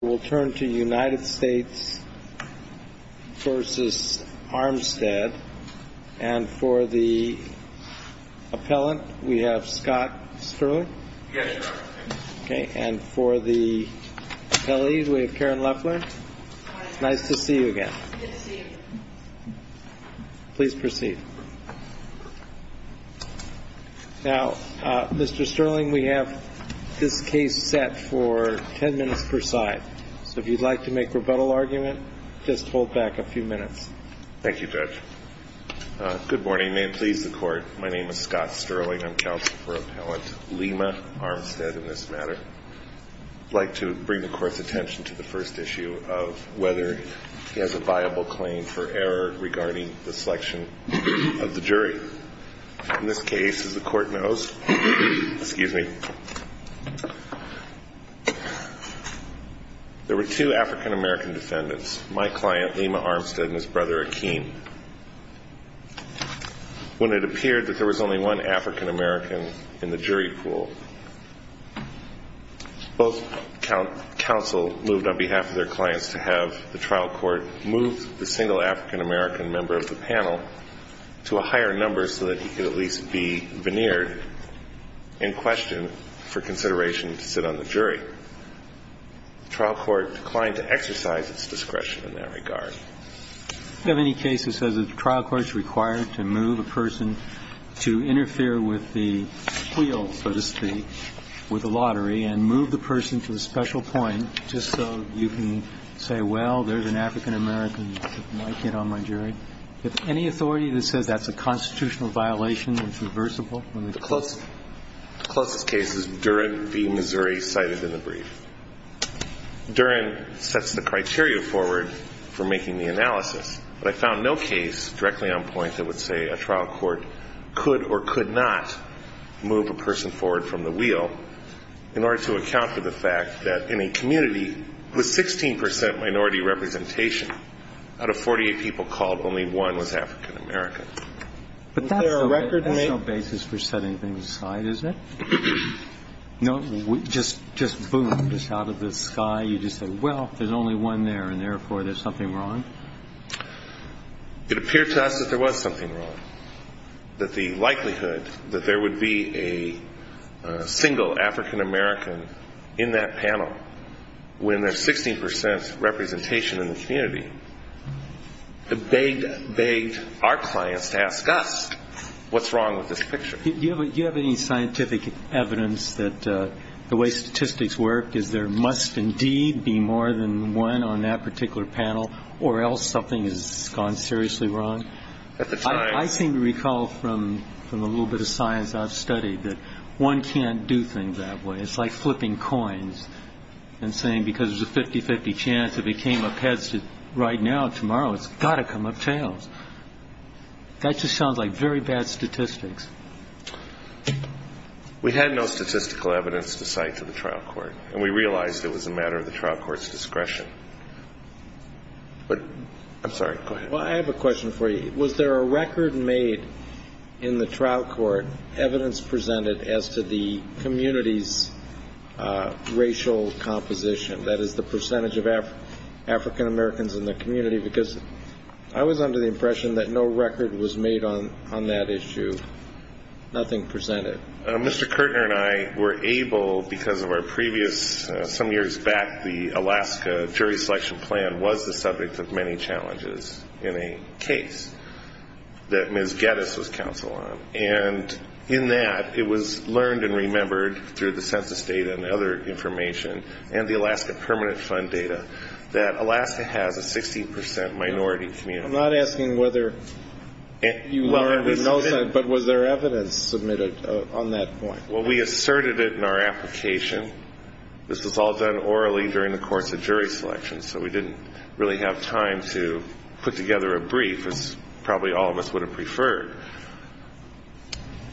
We'll turn to United States v. Armstead. And for the appellant, we have Scott Sterling. Yes, Your Honor. Okay. And for the appellee, we have Karen Loeffler. Hi, Your Honor. Nice to see you again. Good to see you. Please proceed. Now, Mr. Sterling, we have this case set for 10 minutes per side. So if you'd like to make rebuttal argument, just hold back a few minutes. Thank you, Judge. Good morning. May it please the Court, my name is Scott Sterling. I'm counsel for Appellant Lima-Armstead in this matter. I'd like to bring the Court's attention to the first issue of whether he has a viable claim for error regarding the selection of the jury. In this case, as the Court knows, there were two African-American defendants, my client, Lima-Armstead, and his brother, Akeem, when it appeared that there was only one African-American in the jury pool. Both counsel moved on behalf of their clients to have the trial court move the single African-American member of the panel to a higher number so that he could at least be veneered in question for consideration to sit on the jury. The trial court declined to exercise its discretion in that regard. We don't have any case that says the trial court is required to move a person to interfere with the wheel, so to speak, with the lottery, and move the person to a special point just so you can say, well, there's an African-American that might get on my jury. If any authority that says that's a constitutional violation which is reversible in the case. The closest case is Durand v. Missouri cited in the brief. Durand sets the criteria forward for making the analysis, but I found no case directly on point that would say a trial court could or could not move a person forward from the wheel in order to account for the fact that in a community with 16 percent minority representation, out of 48 people called, only one was African-American. Was there a record made? But that's no basis for setting things aside, is it? No. Just boom, just out of the sky, you just say, well, there's only one there, and therefore there's something wrong? It appeared to us that there was something wrong, that the likelihood that there would be a single African-American in that panel when there's 16 percent representation in the community begged our clients to ask us what's wrong with this picture. Do you have any scientific evidence that the way statistics work is there must indeed be more than one on that particular panel, or else something has gone seriously wrong? I seem to recall from a little bit of science I've studied that one can't do things that way. It's like flipping coins and saying because there's a 50-50 chance if it came up heads right now, tomorrow, it's got to come up tails. That just sounds like very bad statistics. We had no statistical evidence to cite to the trial court, and we realized it was a matter of the trial court's discretion. I'm sorry. Go ahead. I have a question for you. Was there a record made in the trial court, evidence presented, as to the community's racial composition, that is, the percentage of African-Americans in the community? Because I was under the impression that no record was made on that issue, nothing presented. Mr. Kirtner and I were able, because of our previous, some years back, the Alaska jury selection plan was the subject of many challenges in a case that Ms. Geddes was counsel on. And in that, it was learned and remembered through the census data and other information and the Alaska Permanent Fund data that Alaska has a 60 percent minority community. I'm not asking whether you learned with no sense, but was there evidence submitted on that point? Well, we asserted it in our application. This was all done orally during the course of jury selection, so we didn't really have time to put together a brief, as probably all of us would have preferred.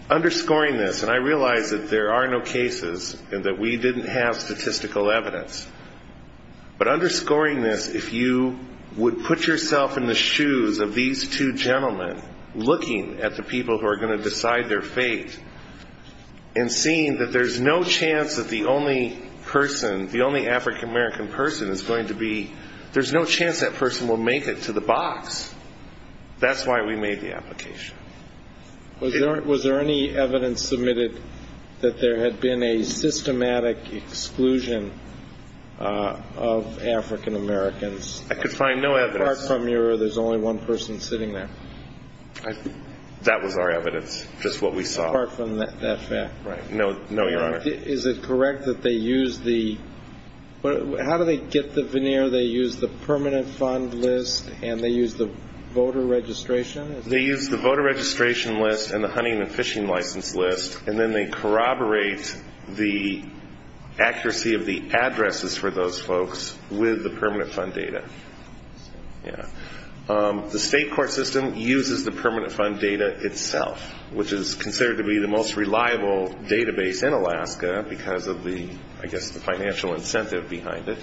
Underscoring this, and I realize that there are no cases and that we didn't have statistical evidence, but underscoring this, if you would put yourself in the shoes of these two gentlemen, looking at the people who are going to decide their fate, and seeing that there's no chance that the only person, the only African-American person is going to be, there's no chance that person will make it to the box. That's why we made the application. Was there any evidence submitted that there had been a systematic exclusion of African-Americans? I could find no evidence. Apart from your there's only one person sitting there. That was our evidence, just what we saw. Apart from that fact. Right. No, Your Honor. Is it correct that they use the, how do they get the veneer, they use the permanent fund list and they use the voter registration? They use the voter registration list and the hunting and fishing license list, and then they corroborate the accuracy of the addresses for those folks with the permanent fund data. Yeah. The state court system uses the permanent fund data itself, which is considered to be the most reliable database in Alaska because of the, I guess, the financial incentive behind it.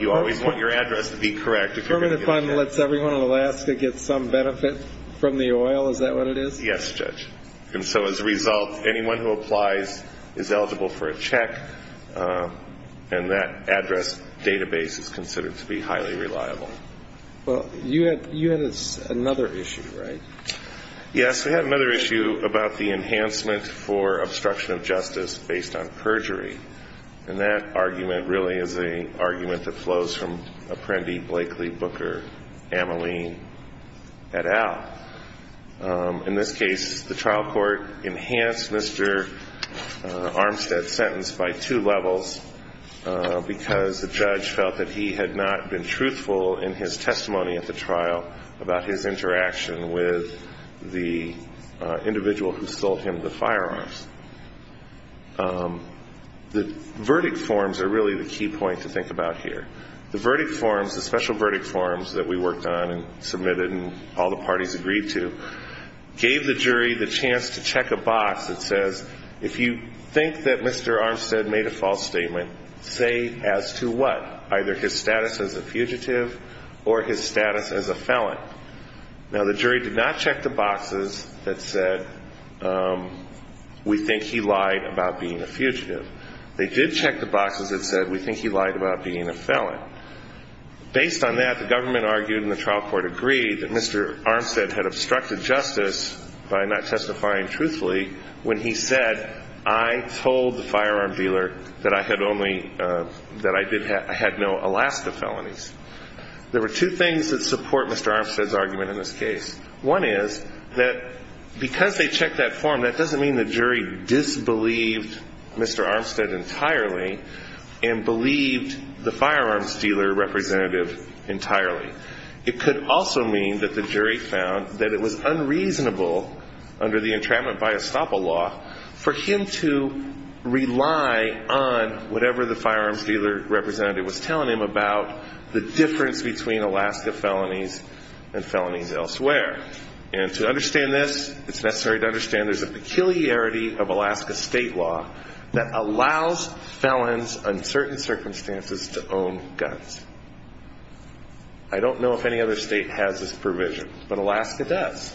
You always want your address to be correct. Permanent fund lets everyone in Alaska get some benefit from the oil, is that what it is? Yes, Judge. And so as a result, anyone who applies is eligible for a check, and that address database is considered to be highly reliable. Well, you had another issue, right? Yes, we had another issue about the enhancement for obstruction of justice based on perjury, and that argument really is an argument that flows from Apprendi, Blakely, Booker, Ameline, et al. In this case, the trial court enhanced Mr. Armstead's sentence by two levels because the judge felt that he had not been truthful in his testimony at the trial about his interaction with the individual who sold him the firearms. The verdict forms are really the key point to think about here. The verdict forms, the special verdict forms that we worked on and submitted and all the parties agreed to, gave the jury the chance to check a box that says, if you think that Mr. Armstead made a false statement, say as to what, either his status as a fugitive or his status as a felon. Now, the jury did not check the boxes that said, we think he lied about being a fugitive. They did check the boxes that said, we think he lied about being a felon. Based on that, the government argued and the trial court agreed that Mr. Armstead had obstructed justice by not testifying truthfully when he said, I told the firearm dealer that I had no Alaska felonies. There were two things that support Mr. Armstead's argument in this case. One is that because they checked that form, that doesn't mean the jury disbelieved Mr. Armstead entirely and believed the firearms dealer representative entirely. It could also mean that the jury found that it was unreasonable under the entrapment by estoppel law for him to rely on whatever the firearms dealer representative was telling him about the difference between Alaska felonies and felonies elsewhere. And to understand this, it's necessary to understand there's a peculiarity of Alaska state law that allows felons under certain circumstances to own guns. I don't know if any other state has this provision, but Alaska does.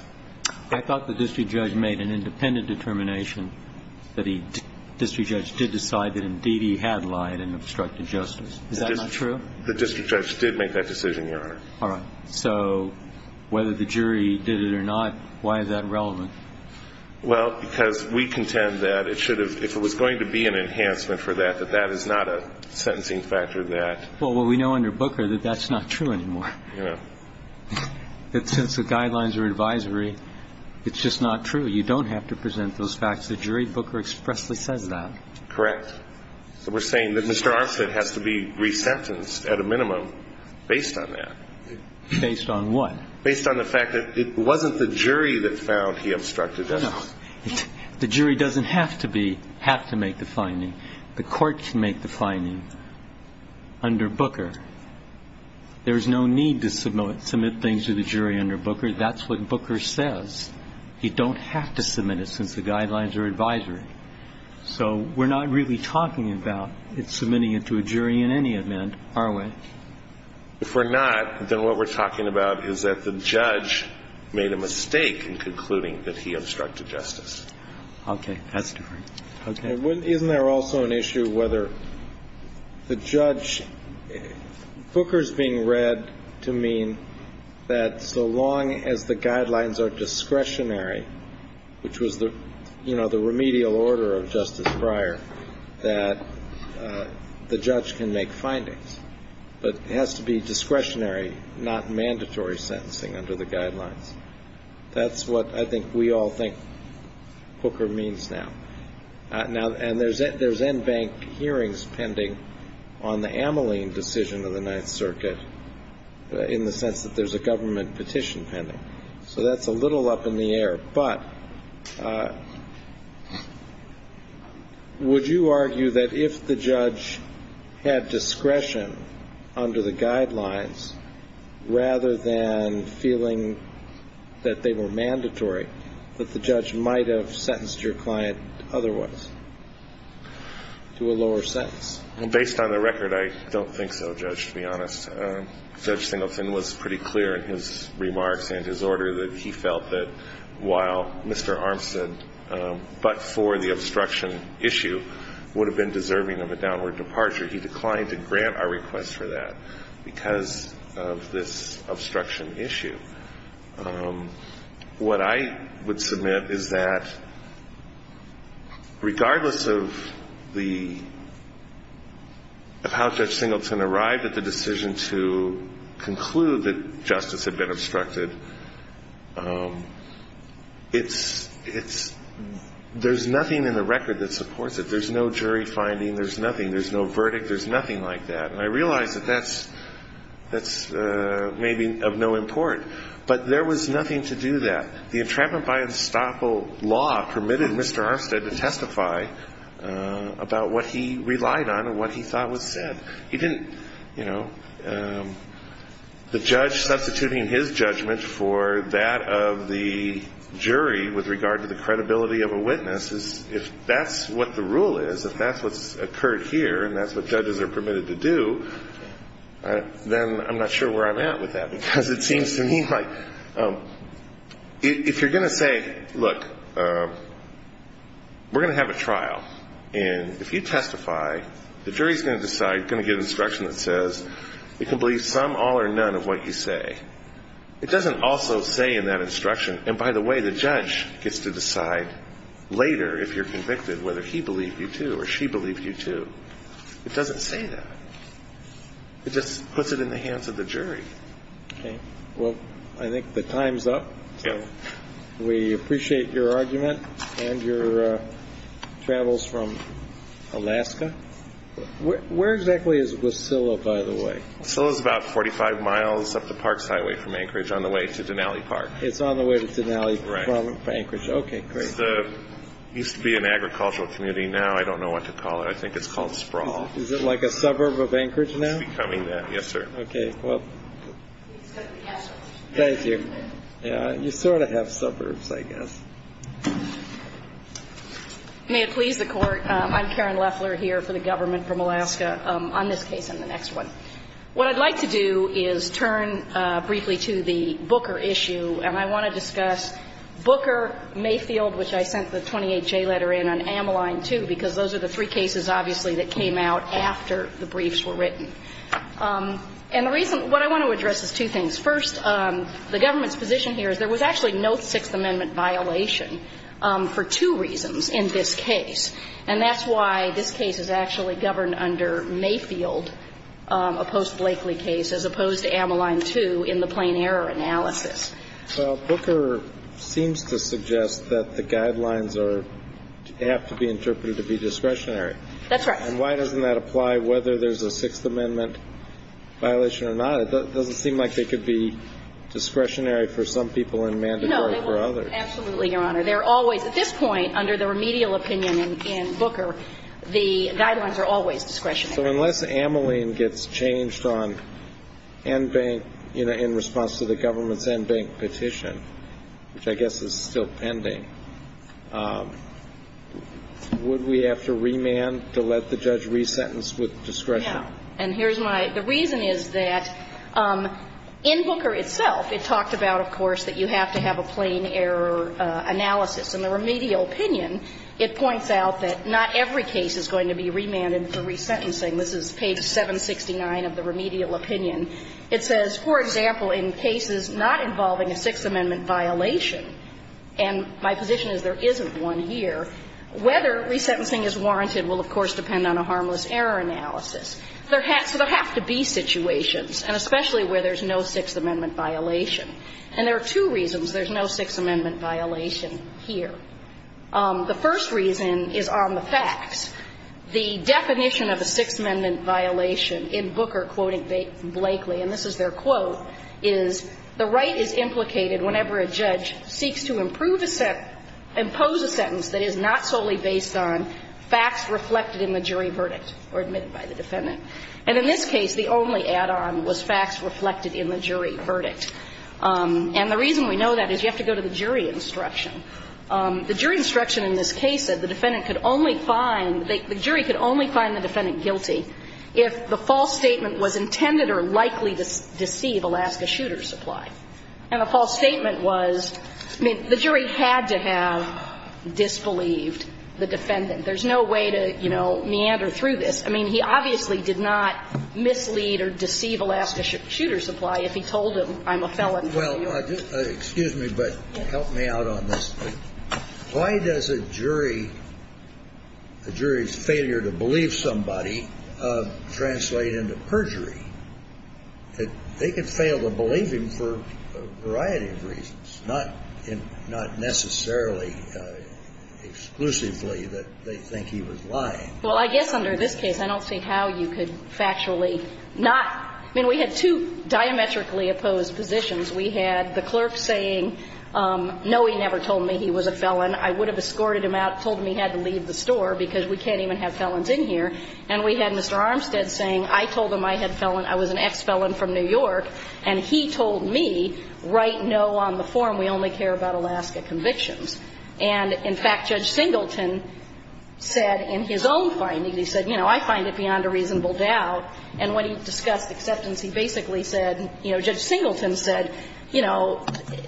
I thought the district judge made an independent determination that he, the district judge did decide that indeed he had lied and obstructed justice. Is that not true? The district judge did make that decision, Your Honor. All right. So whether the jury did it or not, why is that relevant? Well, because we contend that it should have, if it was going to be an enhancement for that, that that is not a sentencing factor that. Well, what we know under Booker that that's not true anymore. Yeah. That since the guidelines are advisory, it's just not true. You don't have to present those facts. The jury Booker expressly says that. Correct. So we're saying that Mr. Armstead has to be resentenced at a minimum based on that. Based on what? Based on the fact that it wasn't the jury that found he obstructed justice. No. The jury doesn't have to be, have to make the finding. The court can make the finding under Booker. There's no need to submit things to the jury under Booker. That's what Booker says. You don't have to submit it since the guidelines are advisory. So we're not really talking about submitting it to a jury in any event, are we? If we're not, then what we're talking about is that the judge made a mistake in concluding that he obstructed justice. Okay. That's different. Okay. Isn't there also an issue whether the judge, Booker's being read to mean that so long as the guidelines are discretionary, which was the, you know, the remedial order of justice prior, that the judge can make findings, but it has to be discretionary, not mandatory sentencing under the guidelines. That's what I think we all think Booker means now. Now, and there's NBank hearings pending on the Ameline decision of the Ninth Circuit in the sense that there's a government petition pending. So that's a little up in the air. But would you argue that if the judge had discretion under the guidelines rather than feeling that they were mandatory, that the judge might have sentenced your client otherwise to a lower sentence? Based on the record, I don't think so, Judge, to be honest. Judge Singleton was pretty clear in his remarks and his order that he felt that while Mr. Armstead, but for the obstruction issue, would have been deserving of a downward departure, he declined to grant our request for that because of this obstruction issue. What I would submit is that regardless of the, of how Judge Singleton arrived at the decision to conclude that justice had been obstructed, it's, it's, there's nothing in the record that supports it. There's no jury finding. There's nothing. There's no verdict. There's nothing like that. And I realize that that's, that's maybe of no import. But there was nothing to do that. The entrapment by estoppel law permitted Mr. Armstead to testify about what he relied on and what he thought was said. He didn't, you know, the judge substituting his judgment for that of the jury with regard to the credibility of a witness, if that's what the rule is, if that's what's occurred here and that's what judges are permitted to do, then I'm not sure where I'm at with that because it seems to me like if you're going to say, look, we're going to have a trial, and if you testify, the jury's going to decide, going to give instruction that says you can believe some, all, or none of what you say. It doesn't also say in that instruction, and by the way, the judge gets to decide later if you're convicted, whether he believed you to or she believed you to. It doesn't say that. It just puts it in the hands of the jury. Okay. Well, I think the time's up. We appreciate your argument and your travels from Alaska. Where exactly is Wasilla, by the way? Wasilla is about 45 miles up the park's highway from Anchorage on the way to Denali Park. It's on the way to Denali from Anchorage. Right. Okay, great. It used to be an agricultural community. Now I don't know what to call it. I think it's called Sprawl. Is it like a suburb of Anchorage now? It's becoming that, yes, sir. Okay. Well, thank you. You sort of have suburbs, I guess. May it please the Court, I'm Karen Leffler here for the government from Alaska on this case and the next one. What I'd like to do is turn briefly to the Booker issue, and I want to discuss Booker, Mayfield, which I sent the 28J letter in, and Ameline, too, because those are the three cases, obviously, that came out after the briefs were written. And the reason what I want to address is two things. First, the government's position here is there was actually no Sixth Amendment violation for two reasons in this case, and that's why this case is actually governed under Mayfield, a post-Blakely case, as opposed to Ameline, too, in the plain error analysis. Well, Booker seems to suggest that the guidelines are to be interpreted to be discretionary. That's right. And why doesn't that apply whether there's a Sixth Amendment violation or not? It doesn't seem like they could be discretionary for some people and mandatory for others. No, absolutely, Your Honor. They're always, at this point, under the remedial opinion in Booker, the guidelines are always discretionary. So unless Ameline gets changed on NBank, you know, in response to the government's NBank petition, which I guess is still pending, would we have to remand to let the judge resentence with discretion? No. And here's my – the reason is that in Booker itself, it talked about, of course, that you have to have a plain error analysis. In the remedial opinion, it points out that not every case is going to be remanded for resentencing. This is page 769 of the remedial opinion. It says, for example, in cases not involving a Sixth Amendment violation, and my position is there isn't one here, whether resentencing is warranted will, of course, depend on a harmless error analysis. So there have to be situations, and especially where there's no Sixth Amendment violation. And there are two reasons there's no Sixth Amendment violation here. The first reason is on the facts. The definition of a Sixth Amendment violation in Booker, quoting Blakely, and this is their quote, is the right is implicated whenever a judge seeks to improve a sentence – impose a sentence that is not solely based on facts reflected in the jury verdict or admitted by the defendant. And in this case, the only add-on was facts reflected in the jury verdict. And the reason we know that is you have to go to the jury instruction. The jury instruction in this case said the defendant could only find – the jury could only find the defendant guilty if the false statement was intended or likely to deceive Alaska Shooter Supply. And the false statement was – I mean, the jury had to have disbelieved the defendant. There's no way to, you know, meander through this. I mean, he obviously did not mislead or deceive Alaska Shooter Supply if he told him, I'm a felon. Well, excuse me, but help me out on this. Why does a jury – a jury's failure to believe somebody translate into perjury? They could fail to believe him for a variety of reasons, not necessarily exclusively that they think he was lying. Well, I guess under this case, I don't see how you could factually not – I mean, we had two diametrically opposed positions. We had the clerk saying, no, he never told me he was a felon. I would have escorted him out, told him he had to leave the store because we can't even have felons in here. And we had Mr. Armstead saying, I told him I had felon – I was an ex-felon from New York, and he told me, write no on the form. We only care about Alaska convictions. And in fact, Judge Singleton said in his own findings, he said, you know, I find it beyond a reasonable doubt. And when he discussed acceptance, he basically said – you know, Judge Singleton said, you know,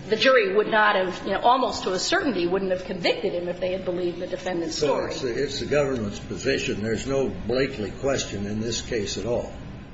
the jury would not have – you know, almost to a certainty wouldn't have convicted him if they had believed the defendant's story. So it's the government's position. There's no Blakeley question in this case at all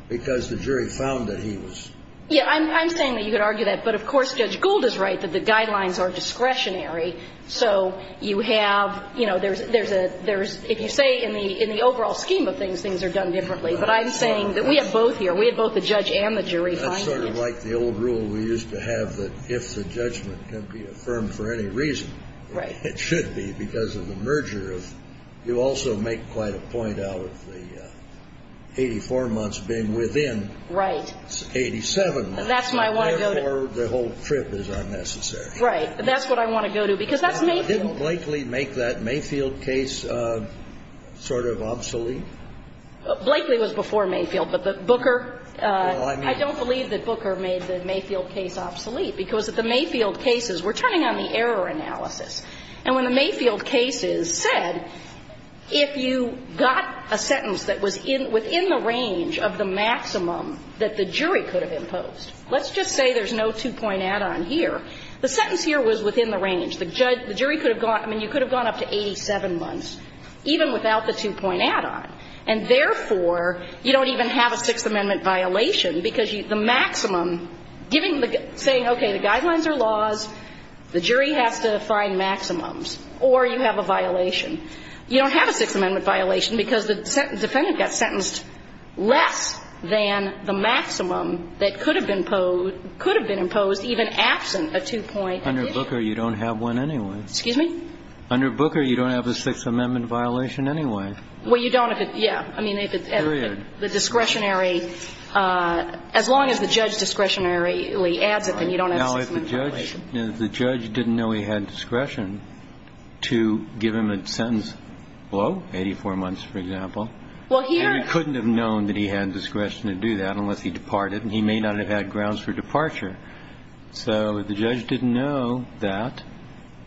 because the jury found that he was Yeah, I'm saying that you could argue that. But of course, Judge Gould is right that the guidelines are discretionary. So you have – you know, there's – if you say in the overall scheme of things, things are done differently. But I'm saying that we have both here. We have both the judge and the jury finding it. That's sort of like the old rule we used to have that if the judgment can be affirmed for any reason, it should be because of the merger of – you also make quite a point out of the 84 months being within 87 months. Right. That's what I want to go to. Therefore, the whole trip is unnecessary. Right. That's what I want to go to because that's Mayfield. Didn't Blakeley make that Mayfield case sort of obsolete? Blakeley was before Mayfield. But Booker – Well, I mean – I don't believe that Booker made the Mayfield case obsolete because the Mayfield cases – we're turning on the error analysis. And when the Mayfield cases said if you got a sentence that was within the range of the maximum that the jury could have imposed. Let's just say there's no two-point add-on here. The sentence here was within the range. The jury could have gone – I mean, you could have gone up to 87 months even without the two-point add-on. And therefore, you don't even have a Sixth Amendment violation because the maximum giving the – saying, okay, the guidelines are laws, the jury has to find maximums, or you have a violation. You don't have a Sixth Amendment violation because the defendant got sentenced less than the maximum that could have been imposed – could have been imposed even absent a two-point addition. Under Booker, you don't have one anyway. Excuse me? Under Booker, you don't have a Sixth Amendment violation anyway. Well, you don't if it's – yeah. Period. I mean, if it's at the discretionary – as long as the judge discretionarily adds it, then you don't have a Sixth Amendment violation. Now, if the judge didn't know he had discretion to give him a sentence below 84 months, for example. Well, here – And he couldn't have known that he had discretion to do that unless he departed, and he may not have had grounds for departure. So if the judge didn't know that,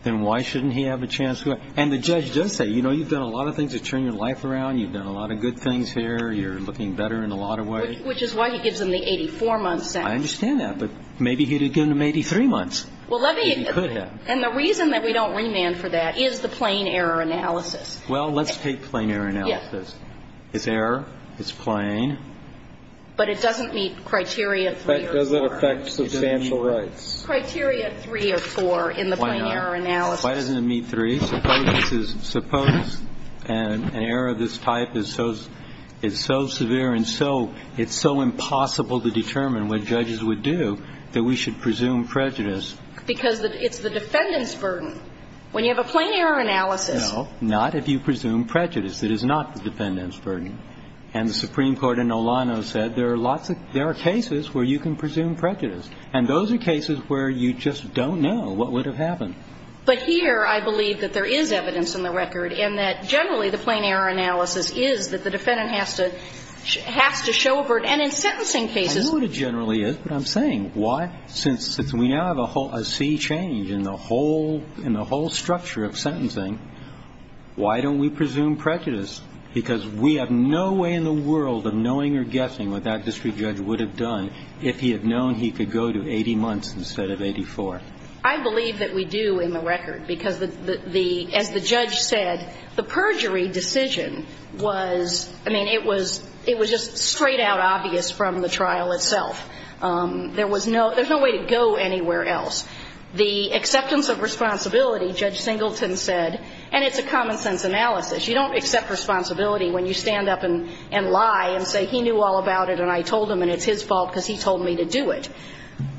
then why shouldn't he have a chance to – and the judge does say, you know, you've done a lot of things to turn your life around, you've done a lot of good things here, you're looking better in a lot of ways. Which is why he gives him the 84-month sentence. I understand that. But maybe he'd have given him 83 months if he could have. And the reason that we don't remand for that is the plain error analysis. Well, let's take plain error analysis. It's error. It's plain. But it doesn't meet Criteria 3 or 4. But does it affect substantial rights? Criteria 3 or 4 in the plain error analysis. Why doesn't it meet 3? Suppose an error of this type is so severe and so – it's so impossible to determine what judges would do that we should presume prejudice. Because it's the defendant's burden. When you have a plain error analysis – No, not if you presume prejudice. It is not the defendant's burden. And the Supreme Court in Olano said there are lots of – there are cases where you can presume prejudice. And those are cases where you just don't know what would have happened. But here I believe that there is evidence in the record, and that generally the plain error analysis is that the defendant has to show a burden. And in sentencing cases – I know what it generally is. That's what I'm saying. Why – since we now have a C change in the whole structure of sentencing, why don't we presume prejudice? Because we have no way in the world of knowing or guessing what that district judge would have done if he had known he could go to 80 months instead of 84. I believe that we do in the record. Because the – as the judge said, the perjury decision was – there was no – there's no way to go anywhere else. The acceptance of responsibility, Judge Singleton said – and it's a common-sense analysis. You don't accept responsibility when you stand up and lie and say he knew all about it and I told him and it's his fault because he told me to do it.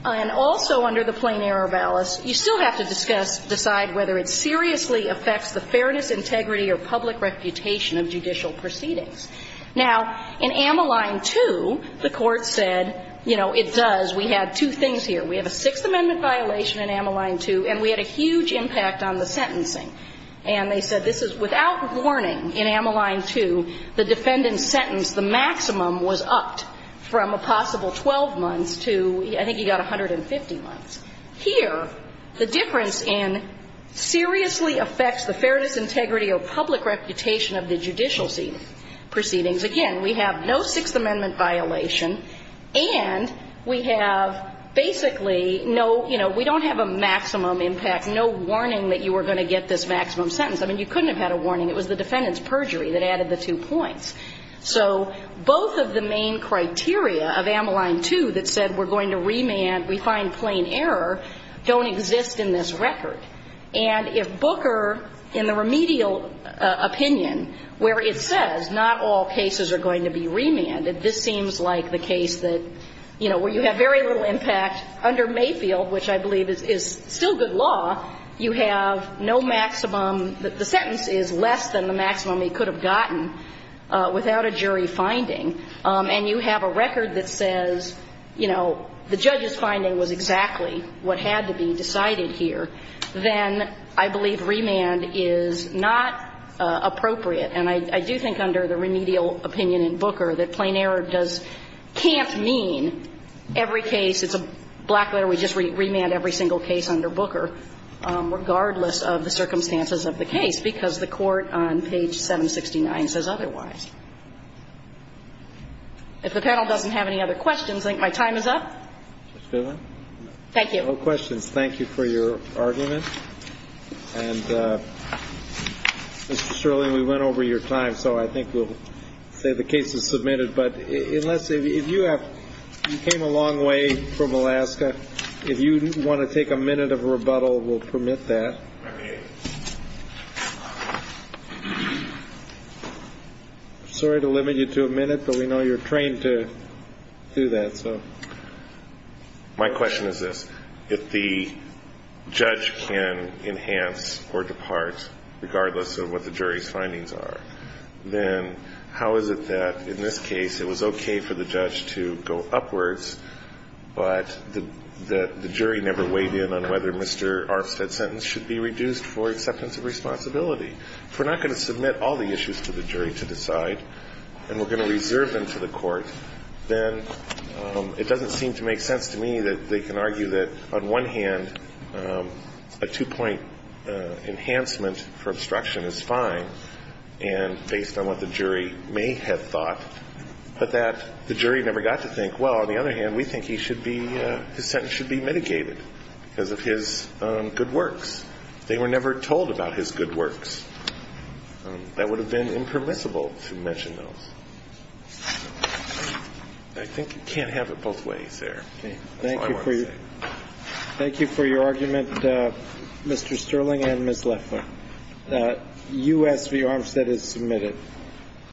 And also under the plain error ballast, you still have to discuss – decide whether it seriously affects the fairness, integrity, or public reputation of judicial proceedings. Now, in Amaline 2, the Court said, you know, it does. We had two things here. We have a Sixth Amendment violation in Amaline 2 and we had a huge impact on the sentencing. And they said this is without warning in Amaline 2, the defendant's sentence, the maximum was upped from a possible 12 months to – I think he got 150 months. of the judicial proceedings. Again, we have no Sixth Amendment violation and we have basically no – you know, we don't have a maximum impact, no warning that you were going to get this maximum sentence. I mean, you couldn't have had a warning. It was the defendant's perjury that added the two points. So both of the main criteria of Amaline 2 that said we're going to remand, we find plain error, don't exist in this record. And if Booker, in the remedial opinion where it says not all cases are going to be remanded, this seems like the case that, you know, where you have very little impact under Mayfield, which I believe is still good law, you have no maximum – the sentence is less than the maximum he could have gotten without a jury finding. And you have a record that says, you know, the judge's finding was exactly what had to be decided here. Then I believe remand is not appropriate. And I do think under the remedial opinion in Booker that plain error does – can't mean every case – it's a black letter, we just remand every single case under Booker, regardless of the circumstances of the case, because the court on page 769 says otherwise. If the panel doesn't have any other questions, I think my time is up. Thank you. No questions. Thank you for your argument. And Mr. Shirley, we went over your time, so I think we'll say the case is submitted. But unless – if you have – you came a long way from Alaska. If you want to take a minute of rebuttal, we'll permit that. Sorry to limit you to a minute, but we know you're trained to do that, so. My question is this. If the judge can enhance or depart regardless of what the jury's findings are, then how is it that in this case it was okay for the judge to go upwards, but the jury never weighed in on whether Mr. Arfstad's sentence should be reduced for acceptance of responsibility? If we're not going to submit all the issues to the jury to decide and we're going to reserve them to the court, then it doesn't seem to make sense to me that they can argue that on one hand a two-point enhancement for obstruction is fine, and based on what the jury may have thought, but that the jury never got to think, well, on the other hand, we think he should be – his sentence should be mitigated because of his good works. They were never told about his good works. That would have been impermissible to mention those. I think you can't have it both ways there. That's all I want to say. Thank you for your argument, Mr. Sterling and Ms. Leffler. U.S. v. Arfstad is submitted.